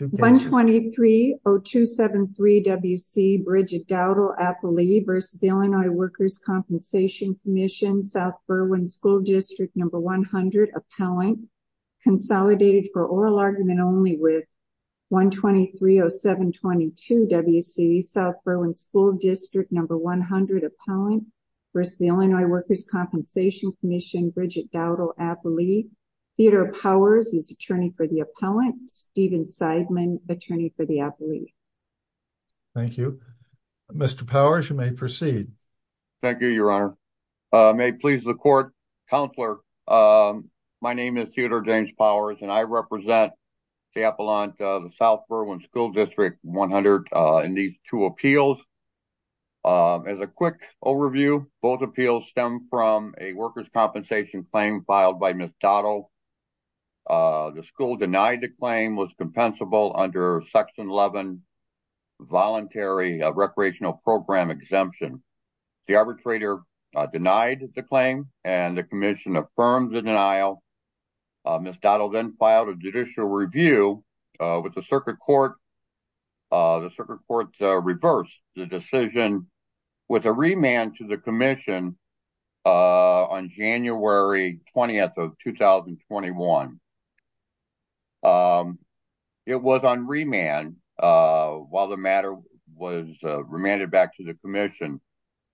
123-0273 W.C. Bridget Doudle, appellee, v. Illinois Workers' Compensation Comm'n, South Berwyn School District No. 100, appellant, consolidated for oral argument only with 123-0722 W.C. South Berwyn School District No. 100, appellant, v. Illinois Workers' Compensation Comm'n, Bridget Doudle, appellee, Theodore Powers is attorney for the appellant, Stephen Seidman, attorney for the appellee. Thank you. Mr. Powers, you may proceed. Thank you, your honor. May it please the court, counselor, my name is Theodore James Powers and I represent the appellant of the South Berwyn School District No. 100 in these two appeals. As a quick overview, both appeals stem from a workers' compensation claim filed by Ms. Doudle. The school denied the claim was compensable under section 11 voluntary recreational program exemption. The arbitrator denied the claim and the commission affirmed the denial. Ms. Doudle then filed a judicial review with the circuit court. The circuit court reversed the decision with a remand to the commission on January 20th of 2021. It was on remand while the matter was remanded back to the commission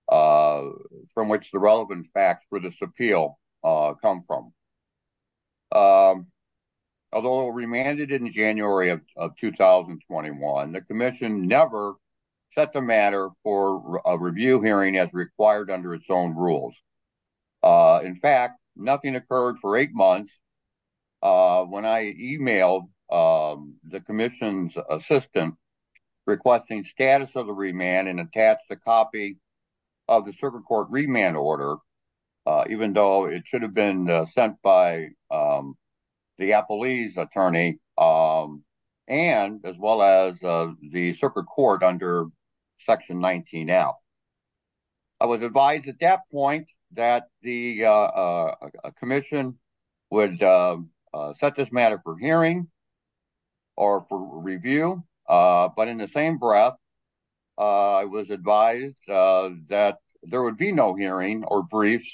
from which the relevant facts for this appeal come from. Although remanded in January of 2021, the commission never set the matter for a review hearing as required under its own rules. In fact, nothing occurred for eight months when I emailed the commission's assistant requesting status of the remand and attached a copy of the circuit court remand order, even though it should have been sent by the appellee's attorney and as well as the circuit court under section 19L. I was advised at that point that the commission would set this matter for hearing or for review, but in the same breath, I was advised that there would be no hearing or briefs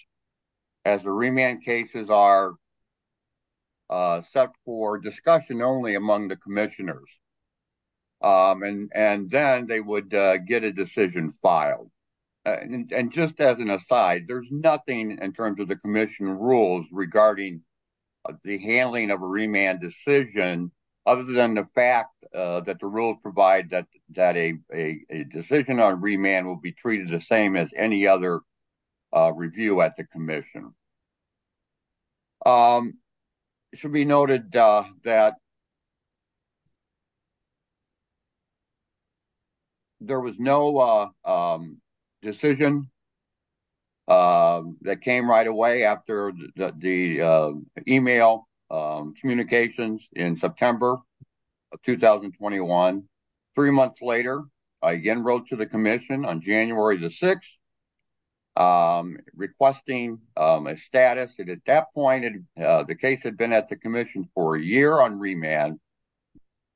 as the remand cases are set for discussion only among the commissioners. And then they would get a decision filed. And just as an aside, there's nothing in terms of commission rules regarding the handling of a remand decision other than the fact that the rules provide that a decision on remand will be treated the same as any other review at the after the email communications in September of 2021. Three months later, I again wrote to the commission on January the 6th requesting a status. And at that point, the case had been at the commission for a year on remand,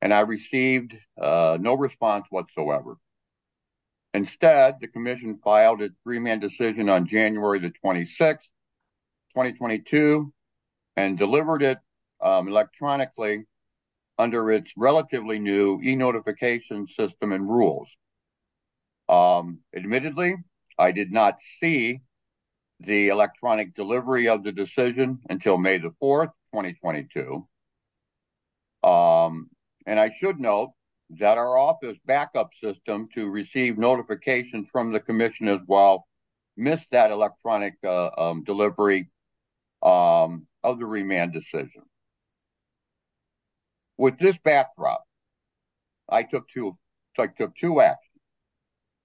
and I received no response whatsoever. Instead, the commission filed its remand decision on January the 26th, 2022, and delivered it electronically under its relatively new eNotification system and rules. Admittedly, I did not see the electronic delivery of the decision until May the 4th, 2022. And I should note that our office to receive notifications from the commission as well missed that electronic delivery of the remand decision. With this backdrop, I took two actions.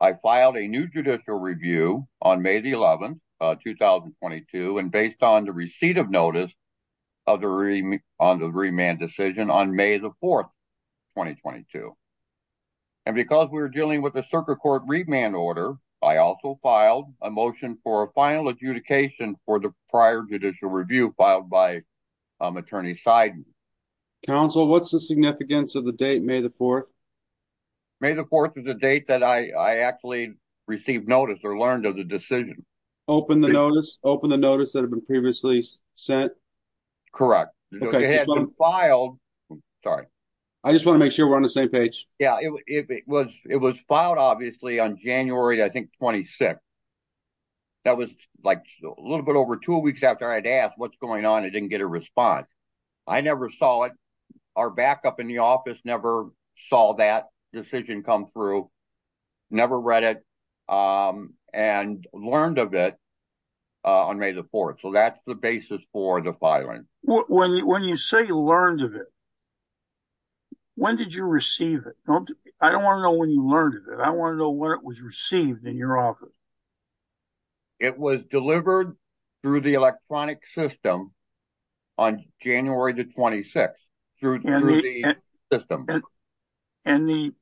I filed a new judicial review on May the 11th, 2022, and based on the receipt of notice on the remand decision on May the 4th, 2022. And because we're dealing with a circuit court remand order, I also filed a motion for a final adjudication for the prior judicial review filed by Attorney Seiden. Counsel, what's the significance of the date May the 4th? May the 4th is a date that I actually received notice or learned of the decision. Open the same page. It was filed, obviously, on January, I think, 26th. That was a little bit over two weeks after I had asked what's going on and didn't get a response. I never saw it. Our backup in the office never saw that decision come through, never read it, and learned of it on May the 4th. So that's the basis for the filing. When you say learned of it, when did you receive it? I don't want to know when you learned of it. I want to know when it was received in your office. It was delivered through the electronic system on January the 26th. And the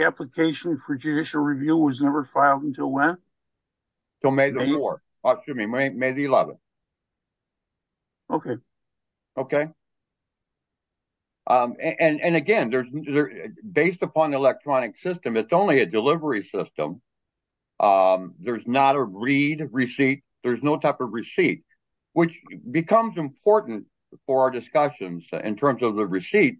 application for judicial review was never filed until when? May the 11th. And again, based upon the electronic system, it's only a delivery system. There's not a read receipt. There's no type of receipt, which becomes important for our discussions in terms of the receipt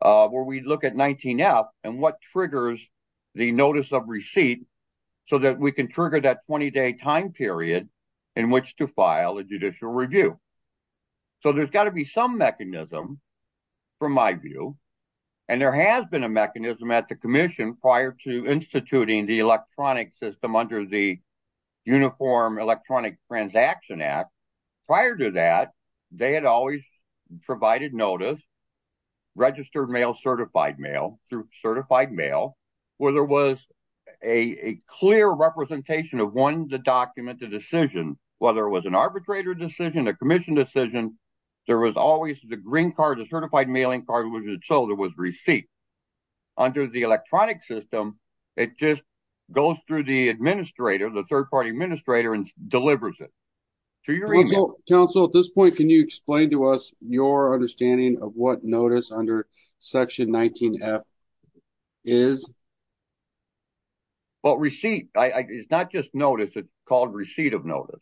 where we look at 19F and what triggers the notice of receipt so that we can trigger that 20-day time period in which to file a judicial review. So there's got to be some mechanism, from my view, and there has been a mechanism at the commission prior to instituting the electronic system under the Uniform Electronic Transaction Act. Prior to that, they had always provided notice, registered mail, certified mail, through certified mail, where there was a clear representation of one, the document, the decision, whether it was an arbitrator decision, a commission decision, there was always the green card, the certified mailing card, so there was receipt. Under the electronic system, it just goes through the administrator, the third-party administrator, and delivers it. To your email. Council, at this point, can you explain to us your understanding of what notice under section 19F is? Well, receipt is not just notice. It's called receipt of notice.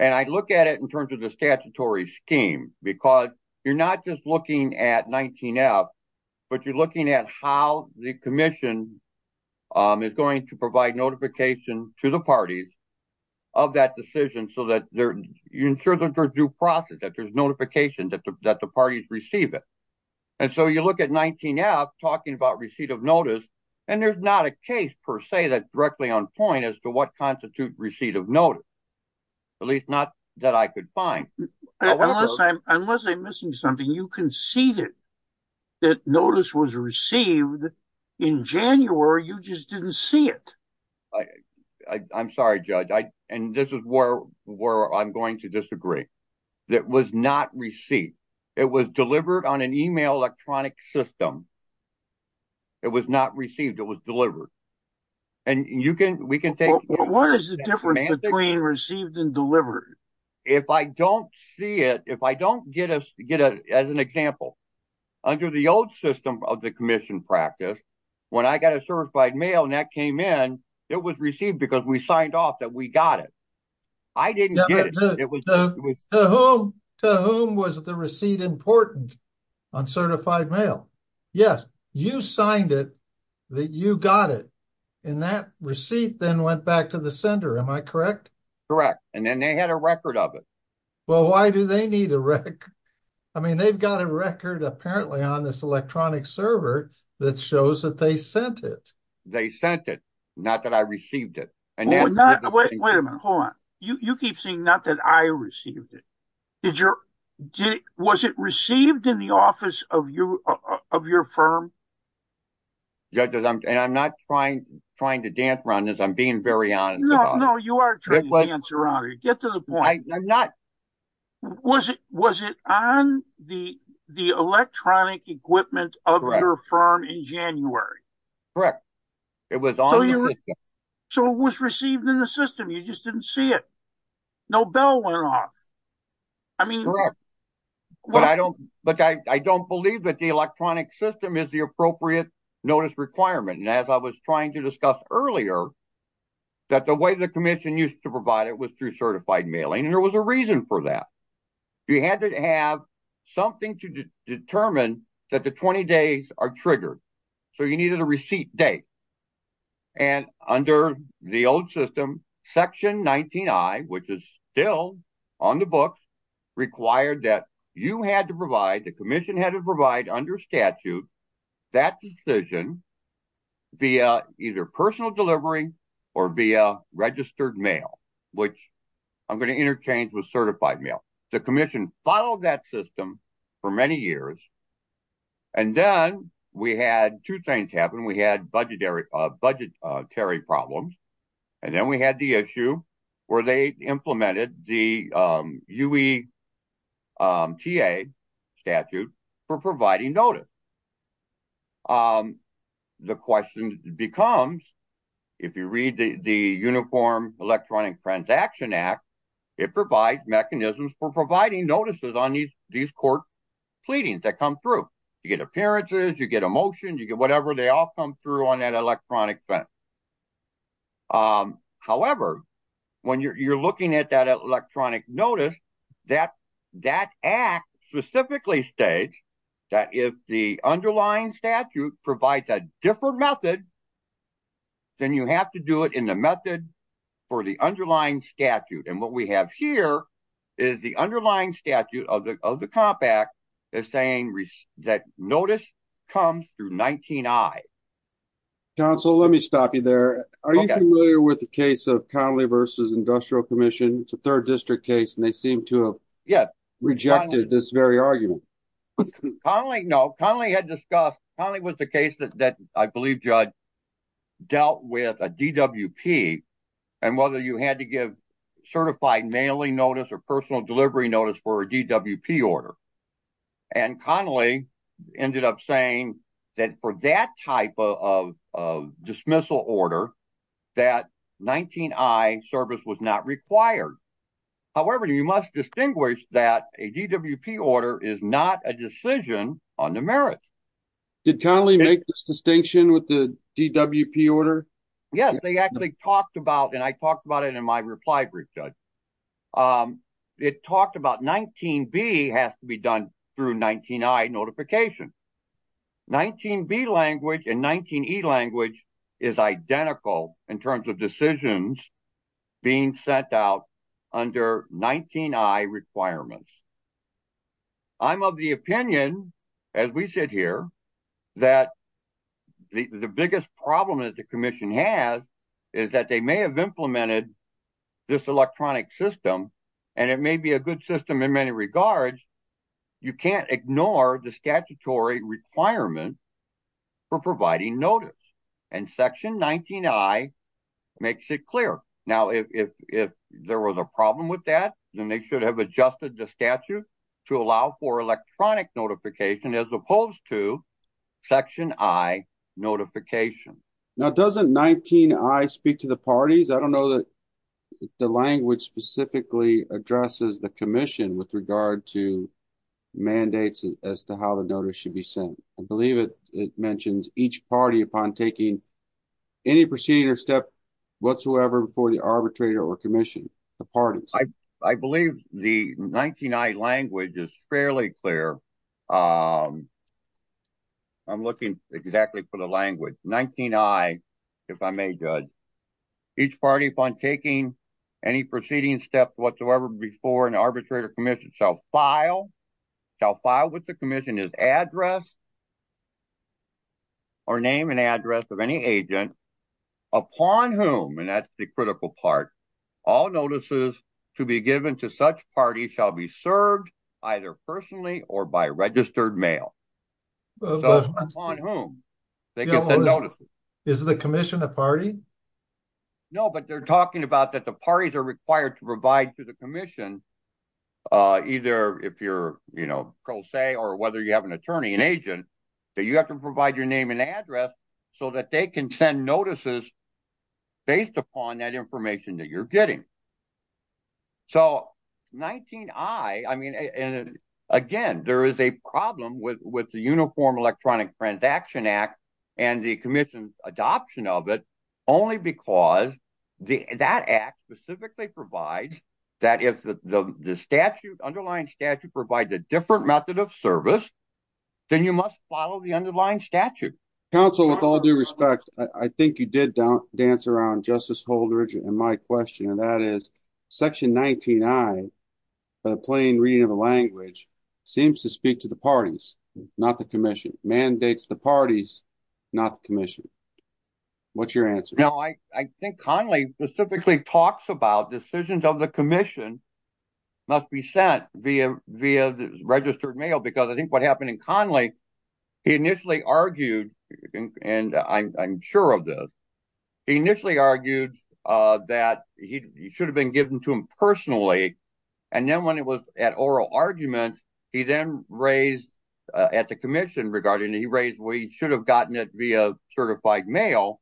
And I look at it in terms of the statutory scheme, because you're not just looking at 19F, but you're looking at how the commission is going to provide notification to the parties of that decision so that you ensure that there's due process, that there's notification that the parties receive it. And so you look at 19F, talking about receipt of notice, and there's not a case, per se, that's directly on point as to what constitutes receipt of notice, at least not that I could find. Unless I'm missing something. You conceded that notice was received in January. You just didn't see it. I'm sorry, Judge. And this is where I'm going to disagree. It was not received. It was delivered on an email electronic system. It was not received. It was delivered. And we can take What is the difference between received and delivered? If I don't see it, if I don't get it, as an example, under the old system of the commission practice, when I got a certified mail and that came in, it was received because we signed off that we got it. I didn't get it. To whom was the receipt important on certified mail? Yes, you signed it, that you got it. And that receipt then went back to the sender. Am I correct? Correct. And then they had a record of it. Well, why do they need a record? I mean, they've got a record apparently on this electronic server that shows that they sent it. They sent it, not that I received it. Hold on. You keep saying not that I received it. Was it received in the office of your firm? Judges, I'm not trying to dance around this. I'm being very honest. No, you are trying to dance around it. Get to the point. I'm not. Was it on the electronic equipment of your firm in January? Correct. It was on. So it was received in the system. You just didn't see it. No bell notice requirement. And as I was trying to discuss earlier, that the way the commission used to provide it was through certified mailing. And there was a reason for that. You had to have something to determine that the 20 days are triggered. So you needed a receipt date. And under the old system, section 19 I, which is still on the books, required that you had to provide, the commission had to provide under statute, that decision via either personal delivery or via registered mail, which I'm going to interchange with certified mail. The commission followed that system for many years. And then we had two things happen. We had budgetary problems. And then we had the issue where they had a TA statute for providing notice. The question becomes, if you read the Uniform Electronic Transaction Act, it provides mechanisms for providing notices on these court pleadings that come through. You get appearances. You get a motion. You get whatever. They all come through on that electronic fence. However, when you're looking at that electronic notice, that act specifically states that if the underlying statute provides a different method, then you have to do it in the method for the underlying statute. And what we have here is the underlying statute of the Comp Act is saying that notice comes through 19 I. Counsel, let me stop you there. Are you familiar with the case of Connelly versus Industrial Commission? It's a third district case, and they seem to have yet rejected this very argument. Connelly, no, Connelly had discussed, Connelly was the case that I believe, Judge, dealt with a DWP and whether you had to give certified mailing notice or personal delivery notice for a DWP order. And Connelly ended up saying that for that type of dismissal order, that 19 I service was not required. However, you must distinguish that a DWP order is not a decision on the merits. Did Connelly make this distinction with the DWP order? Yes, they actually talked about, and I talked about it in my reply brief, Judge. It talked about 19 B has to be done through 19 I notification. 19 B language and 19 E language is identical in terms of decisions being sent out under 19 I requirements. I'm of the opinion, as we sit here, that the biggest problem that the Commission has is that they may have implemented this electronic system, and it may be a good system in many regards. You can't ignore the statutory requirement for providing notice, and section 19 I makes it clear. Now, if there was a problem with that, then they should have adjusted the statute to allow for electronic notification as opposed to section I notification. Now, doesn't 19 I speak to the parties? I don't know that the language specifically addresses the Commission with regard to mandates as to how the notice should be sent. I believe it mentions each party upon taking any procedure step whatsoever before the arbitrator or Commission, the parties. I believe the 19 I language is fairly clear. I'm looking exactly for the language. 19 I, if I may, Judge. Each party upon taking any proceeding steps whatsoever before an arbitrator or Commission shall file with the Commission his address or name and address of any agent upon whom, and that's the registered mail. Upon whom they get the notice. Is the Commission a party? No, but they're talking about that the parties are required to provide to the Commission, either if you're, you know, pro se or whether you have an attorney, an agent, that you have to provide your name and address so that they can send notices based upon that information that you're getting. So, 19 I, I mean, again, there is a problem with the Uniform Electronic Transaction Act and the Commission's adoption of it only because that act specifically provides that if the statute, underlying statute provides a different method of service, then you must follow the underlying statute. Counsel, with all due respect, I think you did dance around Justice Holdridge and my question, and that is section 19 I, the plain reading of the language seems to speak to the parties, not the Commission, mandates the parties, not the Commission. What's your answer? No, I think Conley specifically talks about decisions of the Commission must be sent via the registered mail because I think what happened in Conley, he initially argued, and I'm sure of this, he initially argued that he should have been given to him personally, and then when it was at oral argument, he then raised at the Commission regarding, he raised we should have gotten it via certified mail,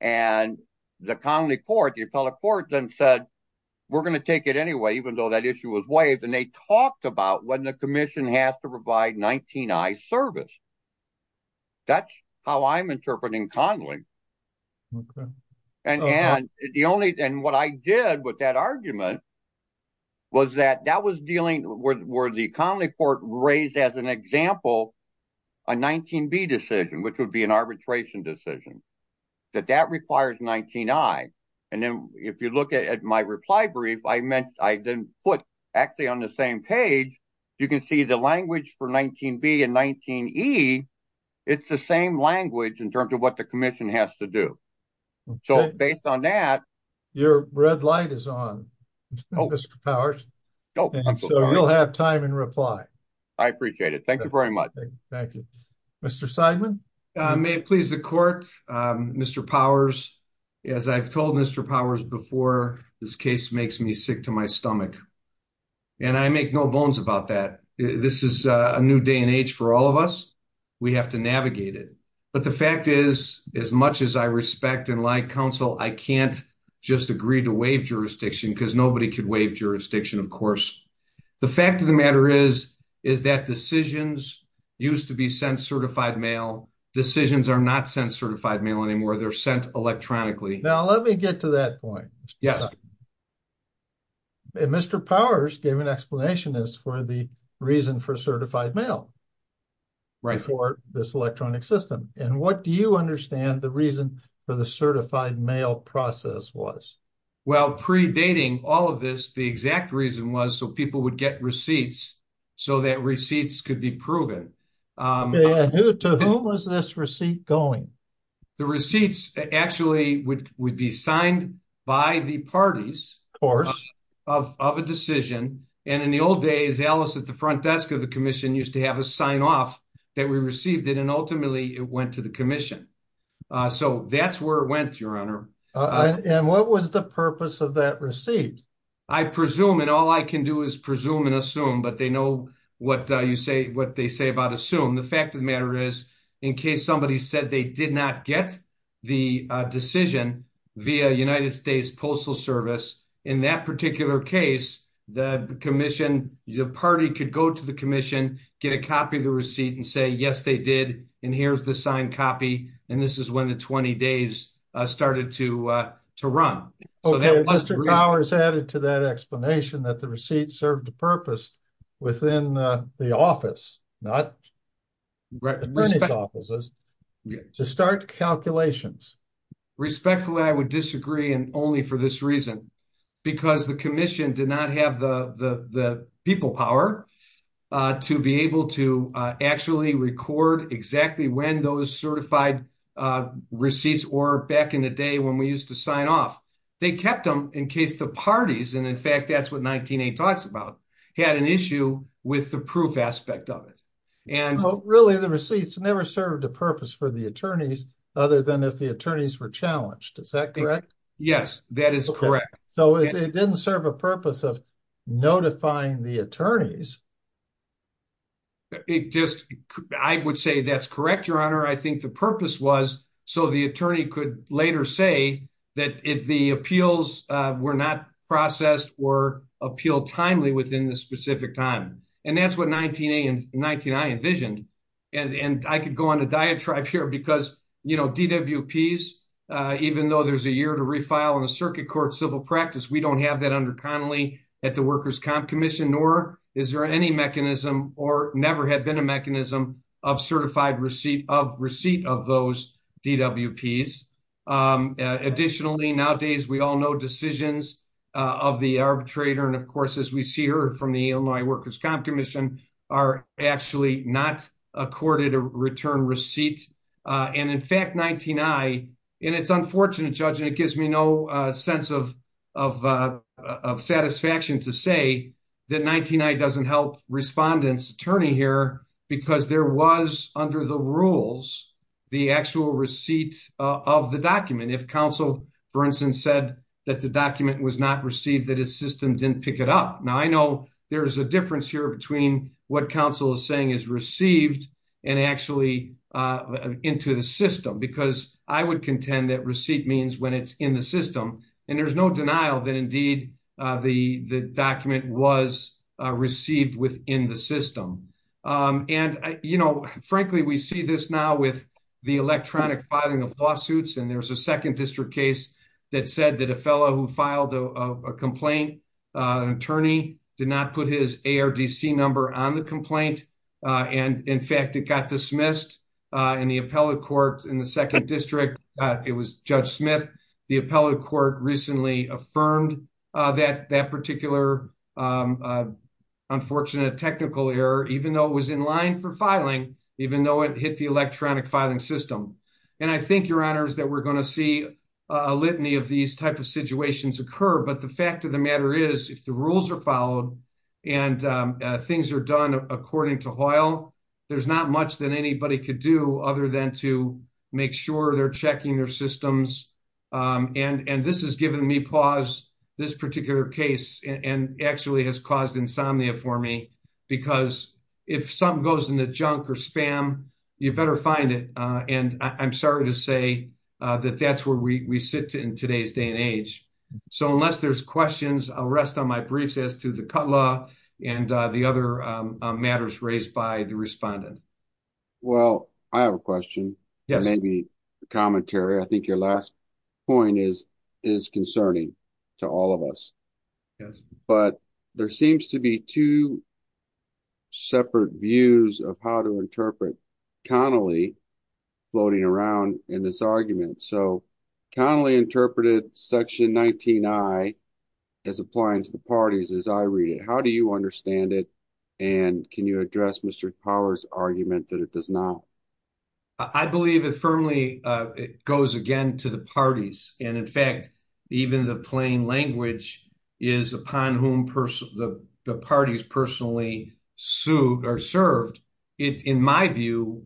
and the county court, the appellate court then said, we're going to take it anyway, even though that issue was waived, and they talked about when the Commission has to provide 19 I service. That's how I'm interpreting Conley, and the only, and what I did with that argument was that that was dealing with where the county court raised as an example a 19 B decision, which would be an arbitration decision, that that requires 19 I, and then if you look at my reply brief, I meant, I didn't put actually on the same page, you can see the language for 19 B and 19 E, it's the same language in terms of what the Commission has to do. So, based on that. Your red light is on, Mr. Powers. So, you'll have time and reply. I appreciate it. Thank you very much. Thank you. Mr. Seidman. May it please the court, Mr. Powers, as I've told Mr. Powers before, this case makes me sick to my stomach. And I make no bones about that. This is a new day and age for all of us. We have to navigate it. But the fact is, as much as I respect and like counsel, I can't just agree to waive jurisdiction because nobody could waive jurisdiction, of course. The fact of the matter is, is that decisions used to be sent certified mail, decisions are not sent certified mail anymore, they're sent electronically. Now, let me get to that point. Yes. Mr. Powers gave an explanation as for the reason for certified mail. Right. For this electronic system. And what do you understand the reason for the certified mail process was? Well, predating all of this, the exact reason was so people would get receipts, so that receipts could be proven. To whom was this receipt going? The receipts actually would be signed by the parties of a decision. And in the old days, Alice at the front desk of the commission used to have a sign off that we received it, and ultimately it went to the commission. So that's where it went, Your Honor. And what was the purpose of that receipt? I presume, and all I can do is presume and assume, but they know what you say, what they say about assume. The fact of the matter is, in case somebody said they did not get the decision via United States Postal Service, in that particular case, the commission, the party could go to the commission, get a copy of the receipt and say, yes, they did. And here's the signed copy. And this is when the 20 days started to run. Mr. Powers added to that explanation that the receipt served a purpose within the office, not the furnished offices, to start calculations. Respectfully, I would disagree, and only for this reason, because the commission did not have the people power to be able to actually record exactly when those certified receipts were back in the day when we used to sign off. They kept them in case the parties, and in fact, that's what 19A talks about, had an issue with the proof aspect of it. And really, the receipts never served a purpose for the attorneys, other than if the attorneys were challenged. Is that correct? Yes, that is correct. So it didn't serve a purpose of notifying the attorneys. It just, I would say that's correct, Your Honor. I think the purpose was so the attorney could later say that if the appeals were not processed or appealed timely within the specific time. And that's what 19A and 19I envisioned. And I could go on a diatribe here because, you know, DWPs, even though there's a year to refile in the circuit court civil practice, we don't have that under Connolly at the Workers' Comp Commission, nor is there any mechanism or never had been a DWP. Additionally, nowadays, we all know decisions of the arbitrator. And of course, as we see here from the Illinois Workers' Comp Commission, are actually not accorded a return receipt. And in fact, 19I, and it's unfortunate, Judge, and it gives me no sense of satisfaction to say that 19I doesn't help respondents attorney here, because there was under the rules, the actual receipt of the document, if counsel, for instance, said that the document was not received, that his system didn't pick it up. Now, I know there's a difference here between what counsel is saying is received, and actually into the system, because I would contend that receipt means when it's in the system, and there's no denial that indeed, the document was received within the system. And, you know, frankly, we see this now with the electronic filing of lawsuits, and there's a second district case that said that a fellow who filed a complaint, an attorney did not put his ARDC number on the complaint. And in fact, it got dismissed in the appellate court in the second district, it was Judge Smith, the appellate court recently affirmed that that technical error, even though it was in line for filing, even though it hit the electronic filing system. And I think your honors that we're going to see a litany of these type of situations occur. But the fact of the matter is, if the rules are followed, and things are done, according to Hoyle, there's not much that anybody could do other than to make sure they're checking their systems. And this has given me pause, this particular case, and actually has caused insomnia for me, because if something goes in the junk or spam, you better find it. And I'm sorry to say that that's where we sit in today's day and age. So unless there's questions, I'll rest on my briefs as to the cut law and the other matters raised by the respondent. Well, I have a question. Maybe commentary, I think your last point is, is concerning to all of us. But there seems to be two separate views of how to interpret Connolly floating around in this argument. So Connolly interpreted Section 19. I is applying to the parties as I read it. How do you understand it? And can you address Mr. Powers argument that it does now? I believe it firmly goes again to the parties. And in fact, even the plain language is upon whom the parties personally sued or served. In my view,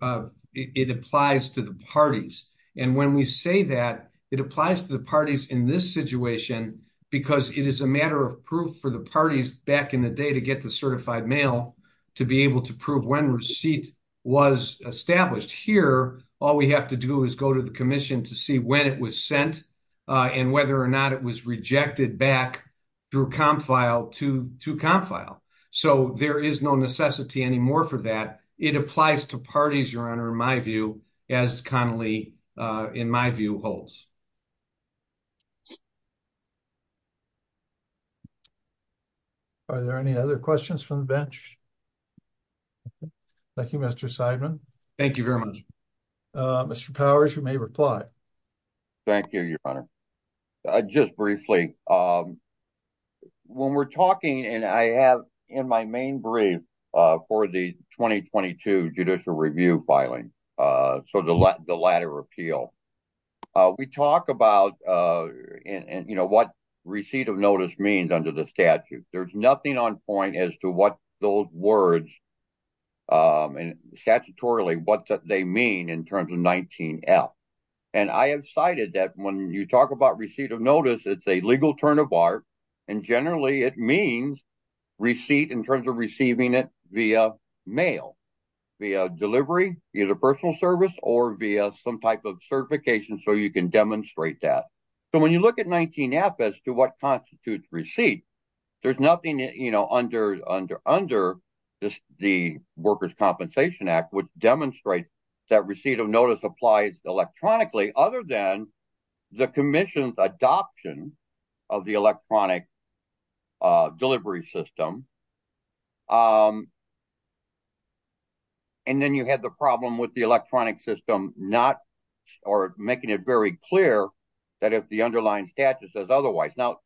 it applies to the parties. And when we say that, it applies to the parties in this situation, because it is a matter of proof for the parties back in the day to get the certified mail to be able to prove when receipt was established. Here, all we have to do is go to the commission to see when it was sent, and whether or not it was rejected back through comp file to comp file. So there is no necessity anymore for that. It applies to parties, your honor, in my view, as Connolly, in my view holds. Are there any other questions from bench? Thank you, Mr. Seidman. Thank you very much. Mr. Powers, you may reply. Thank you, your honor. Just briefly. When we're talking and I have in my main brief for the 2022 judicial review filing, sort of the latter appeal, we talk about, you know, what receipt of notice means under the 19F. There's nothing on point as to what those words and statutorily what they mean in terms of 19F. And I have cited that when you talk about receipt of notice, it's a legal turn of art. And generally, it means receipt in terms of receiving it via mail, via delivery, either personal service or via some type of certification. So you can demonstrate that. So when you look at 19F as to what constitutes receipt, there's nothing, you know, under the Workers' Compensation Act would demonstrate that receipt of notice applies electronically other than the commission's adoption of the electronic delivery system. And then you have the problem with the electronic system not or making it very clear that if the underlying statute says otherwise. Now,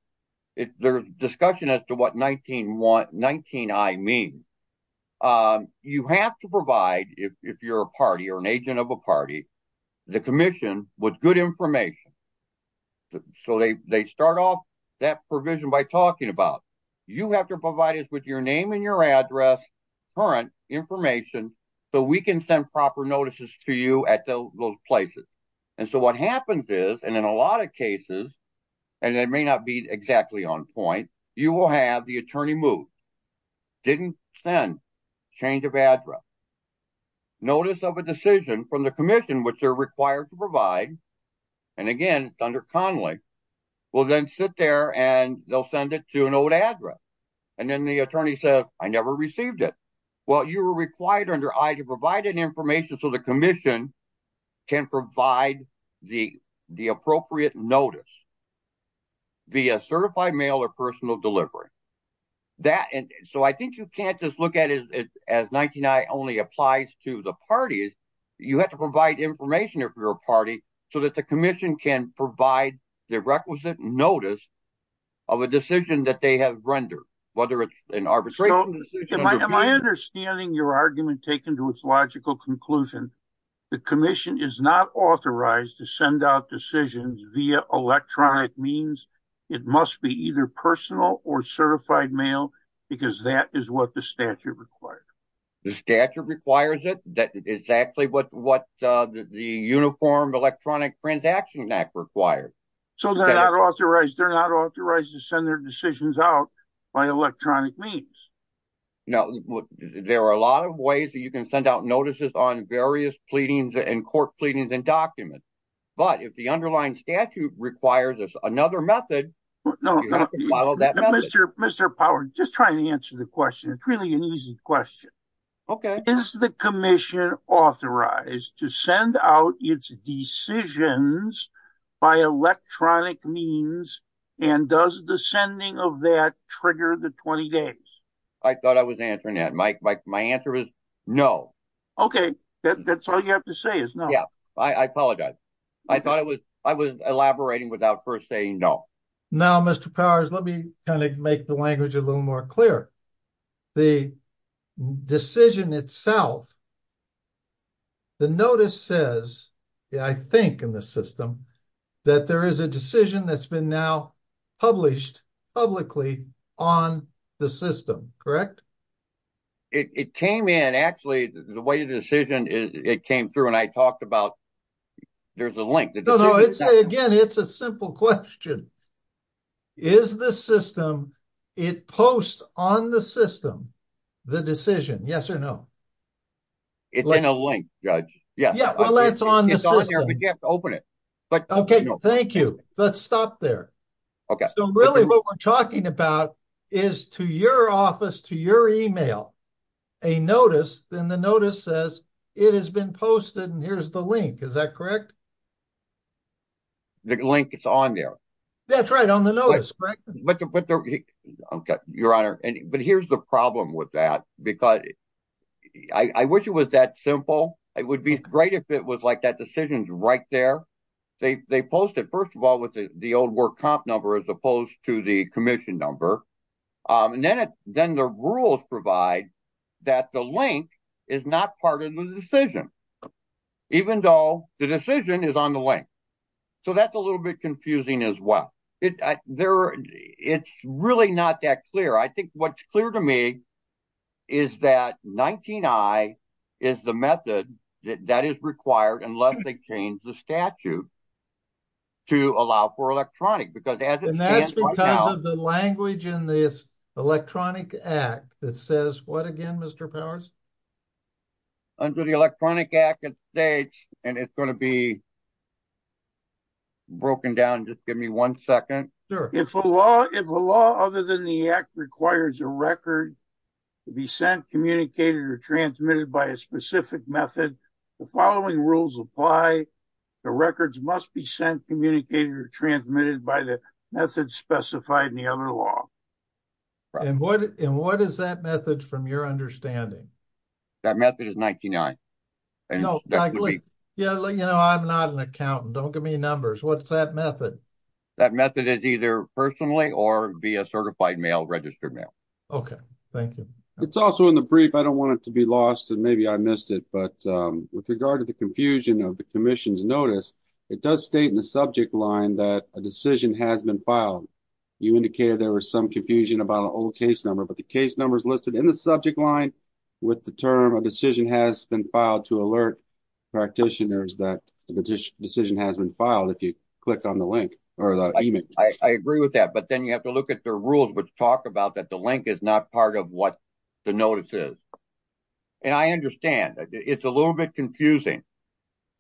there's discussion as to what 19I means. You have to provide, if you're a party or an agent of a party, the commission with good information. So they start off that provision by talking about, you have to provide us with your name and your address, current information, so we can send proper notices to you at those places. And so what happens is, and in a lot of cases, and it may not be exactly on point, you will have the attorney move, didn't send, change of address, notice of a decision from the commission, which they're required to provide. And again, under Connelly, will then sit there and they'll send it to an old address. And then the attorney says, I never received it. Well, you were required under I to provide an information so the commission can provide the appropriate notice via certified mail or personal delivery. So I think you can't just look at it as 19I only applies to the parties. You have to provide information if you're a party so that the commission can provide the requisite notice of a decision that they have rendered, whether it's an arbitration decision. Am I understanding your argument taken to its logical conclusion, the commission is not authorized to send out decisions via electronic means, it must be either personal or certified mail, because that is what the statute requires. The statute requires it, that is exactly what the Uniform Electronic Transaction Act requires. So they're not authorized to send their decisions out by electronic means. Now, there are a lot of ways that you can send out notices on various pleadings and court pleadings and documents. But if the underlying statute requires another method, you have to follow that method. Mr. Power, just trying to answer the question, it's really an easy question. Okay. Is the commission authorized to send out its decisions by electronic means? And does the sending of that trigger the 20 days? I thought I was answering that, Mike. My answer is no. Okay. That's all you have to say is no. Yeah, I apologize. I thought I was elaborating without first saying no. Now, Mr. Powers, let me kind of make the language a little more clear. The decision itself, the notice says, I think in the system, that there is a decision that's been now published publicly on the system, correct? It came in, actually, the way the decision came through, and I talked about, there's a link. Again, it's a simple question. Is the system, it posts on the system, the decision, yes or no? It's in a link, Judge. Yeah, well, that's on the system. It's on there, but you have to open it. Okay, thank you. Let's stop there. So really, what we're talking about is to your office, to your email, a notice, then the notice says, it has been posted, and here's the link. Is that correct? The link is on there. That's right, on the notice, correct? Your Honor, but here's the problem with that, because I wish it was that simple. It would be great if it was like that decision's right there. They post it, first of all, with the old work comp number as opposed to the commission number, and then the rules provide that the link is not part of the decision, even though the decision is on the link. So that's a little bit confusing as well. It's really not that clear. I think what's clear to me is that 19I is the method that is required, unless they change the statute, to allow for electronic, because as it stands right now— And that's because of the language in this Electronic Act that says, what again, Mr. Powers? Under the Electronic Act, it states, and it's going to be broken down, just give me one second. Sure. If a law other than the Act requires a record to be sent, communicated, or transmitted by a specific method, the following rules apply. The records must be sent, communicated, or transmitted by the method specified in the other law. And what is that method, from your understanding? That method is 19I. Yeah, you know, I'm not an accountant. Don't give me numbers. What's that method? That method is either personally or via certified mail, registered mail. Okay, thank you. It's also in the brief. I don't want it to be lost, and maybe I missed it, but with regard to the confusion of the commission's notice, it does state in the subject line that a decision has been filed. You indicated there was some confusion about an old case number, but the case number is listed in the subject line with the term, a decision has been filed to alert practitioners that the decision has been filed, if you click on the link, or the email. I agree with that, but then you have to look at the rules, which talk about that the link is not part of what the notice is. And I understand. It's a little bit confusing.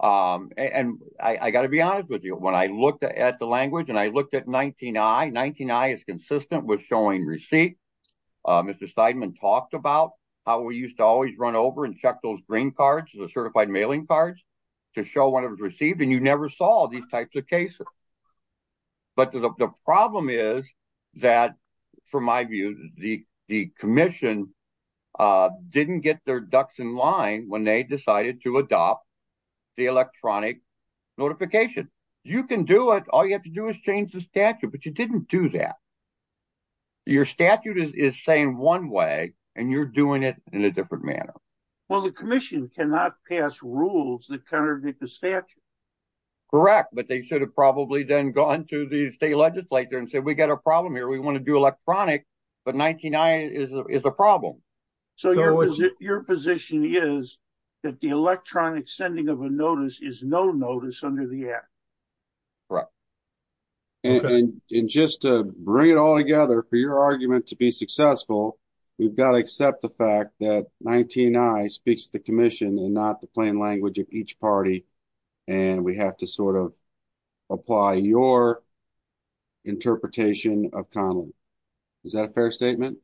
And I got to be honest with you, when I looked at the language, and I looked at 19I, 19I is consistent with showing receipt. Mr. Seidman talked about how we used to always run over and check those green cards, the certified mailing cards, to show when it was received, and you never saw these types of cases. But the problem is that, from my view, the commission didn't get their ducks in line when they decided to adopt the electronic notification. You can do it. All you have to do is change the statute, but you didn't do that. Your statute is saying one way, and you're doing it in a different manner. Well, the commission cannot pass rules that contradict the statute. Correct, but they should have probably then gone to the state legislature and said, we got a problem here, we want to do electronic, but 19I is a problem. So, your position is that the electronic sending of a notice is no notice under the act? Correct. Okay. And just to bring it all together, for your argument to be successful, we've got to accept the fact that 19I speaks to the commission and not the plain language of each party, and we have to sort of apply your interpretation of Conlon. Is that a fair statement?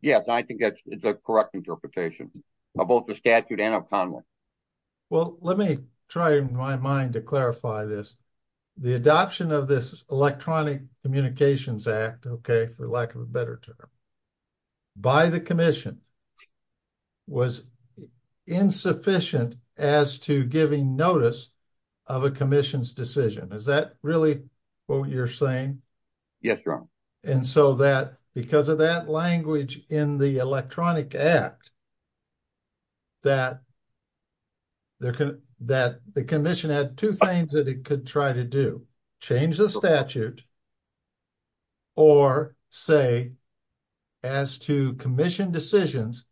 Yes, I think that's the correct interpretation of both the statute and of Conlon. Well, let me try in my mind to clarify this. The adoption of this Electronic Communications Act, for lack of a better term, by the commission was insufficient as to giving notice of a commission's decision. Is that really what you're saying? Yes, Your Honor. And so that, because of that language in the Electronic Act, that the commission had two things that it could try to do, change the statute, or say, as to commission decisions,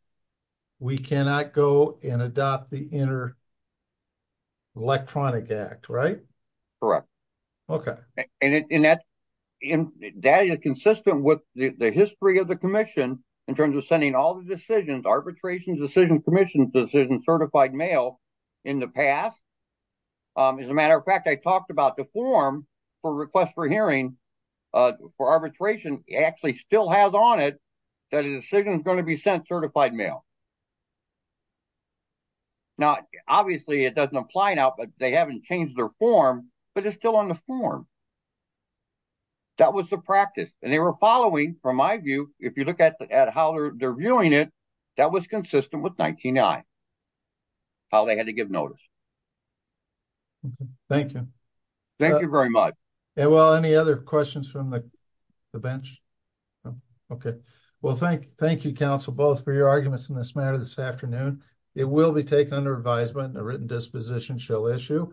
we cannot go and adopt the Inter-Electronic Act, right? Correct. Okay. And that is consistent with the history of the commission, in terms of sending all the decisions, arbitrations, decisions, commissions, decisions, certified mail in the past. As a matter of fact, I talked about the form for request for hearing for arbitration, actually still has on it that a decision is going to be sent certified mail. Now, obviously, it doesn't apply now, but they haven't changed their form, but it's still on the form. That was the practice, and they were following, from my view, if you look at how they're viewing it, that was consistent with 19-I, how they had to give notice. Thank you. Thank you very much. And well, any other questions from the bench? Okay. Well, thank you, counsel, both for your arguments in this matter this afternoon. It will be taken under advisement and a written disposition shall issue.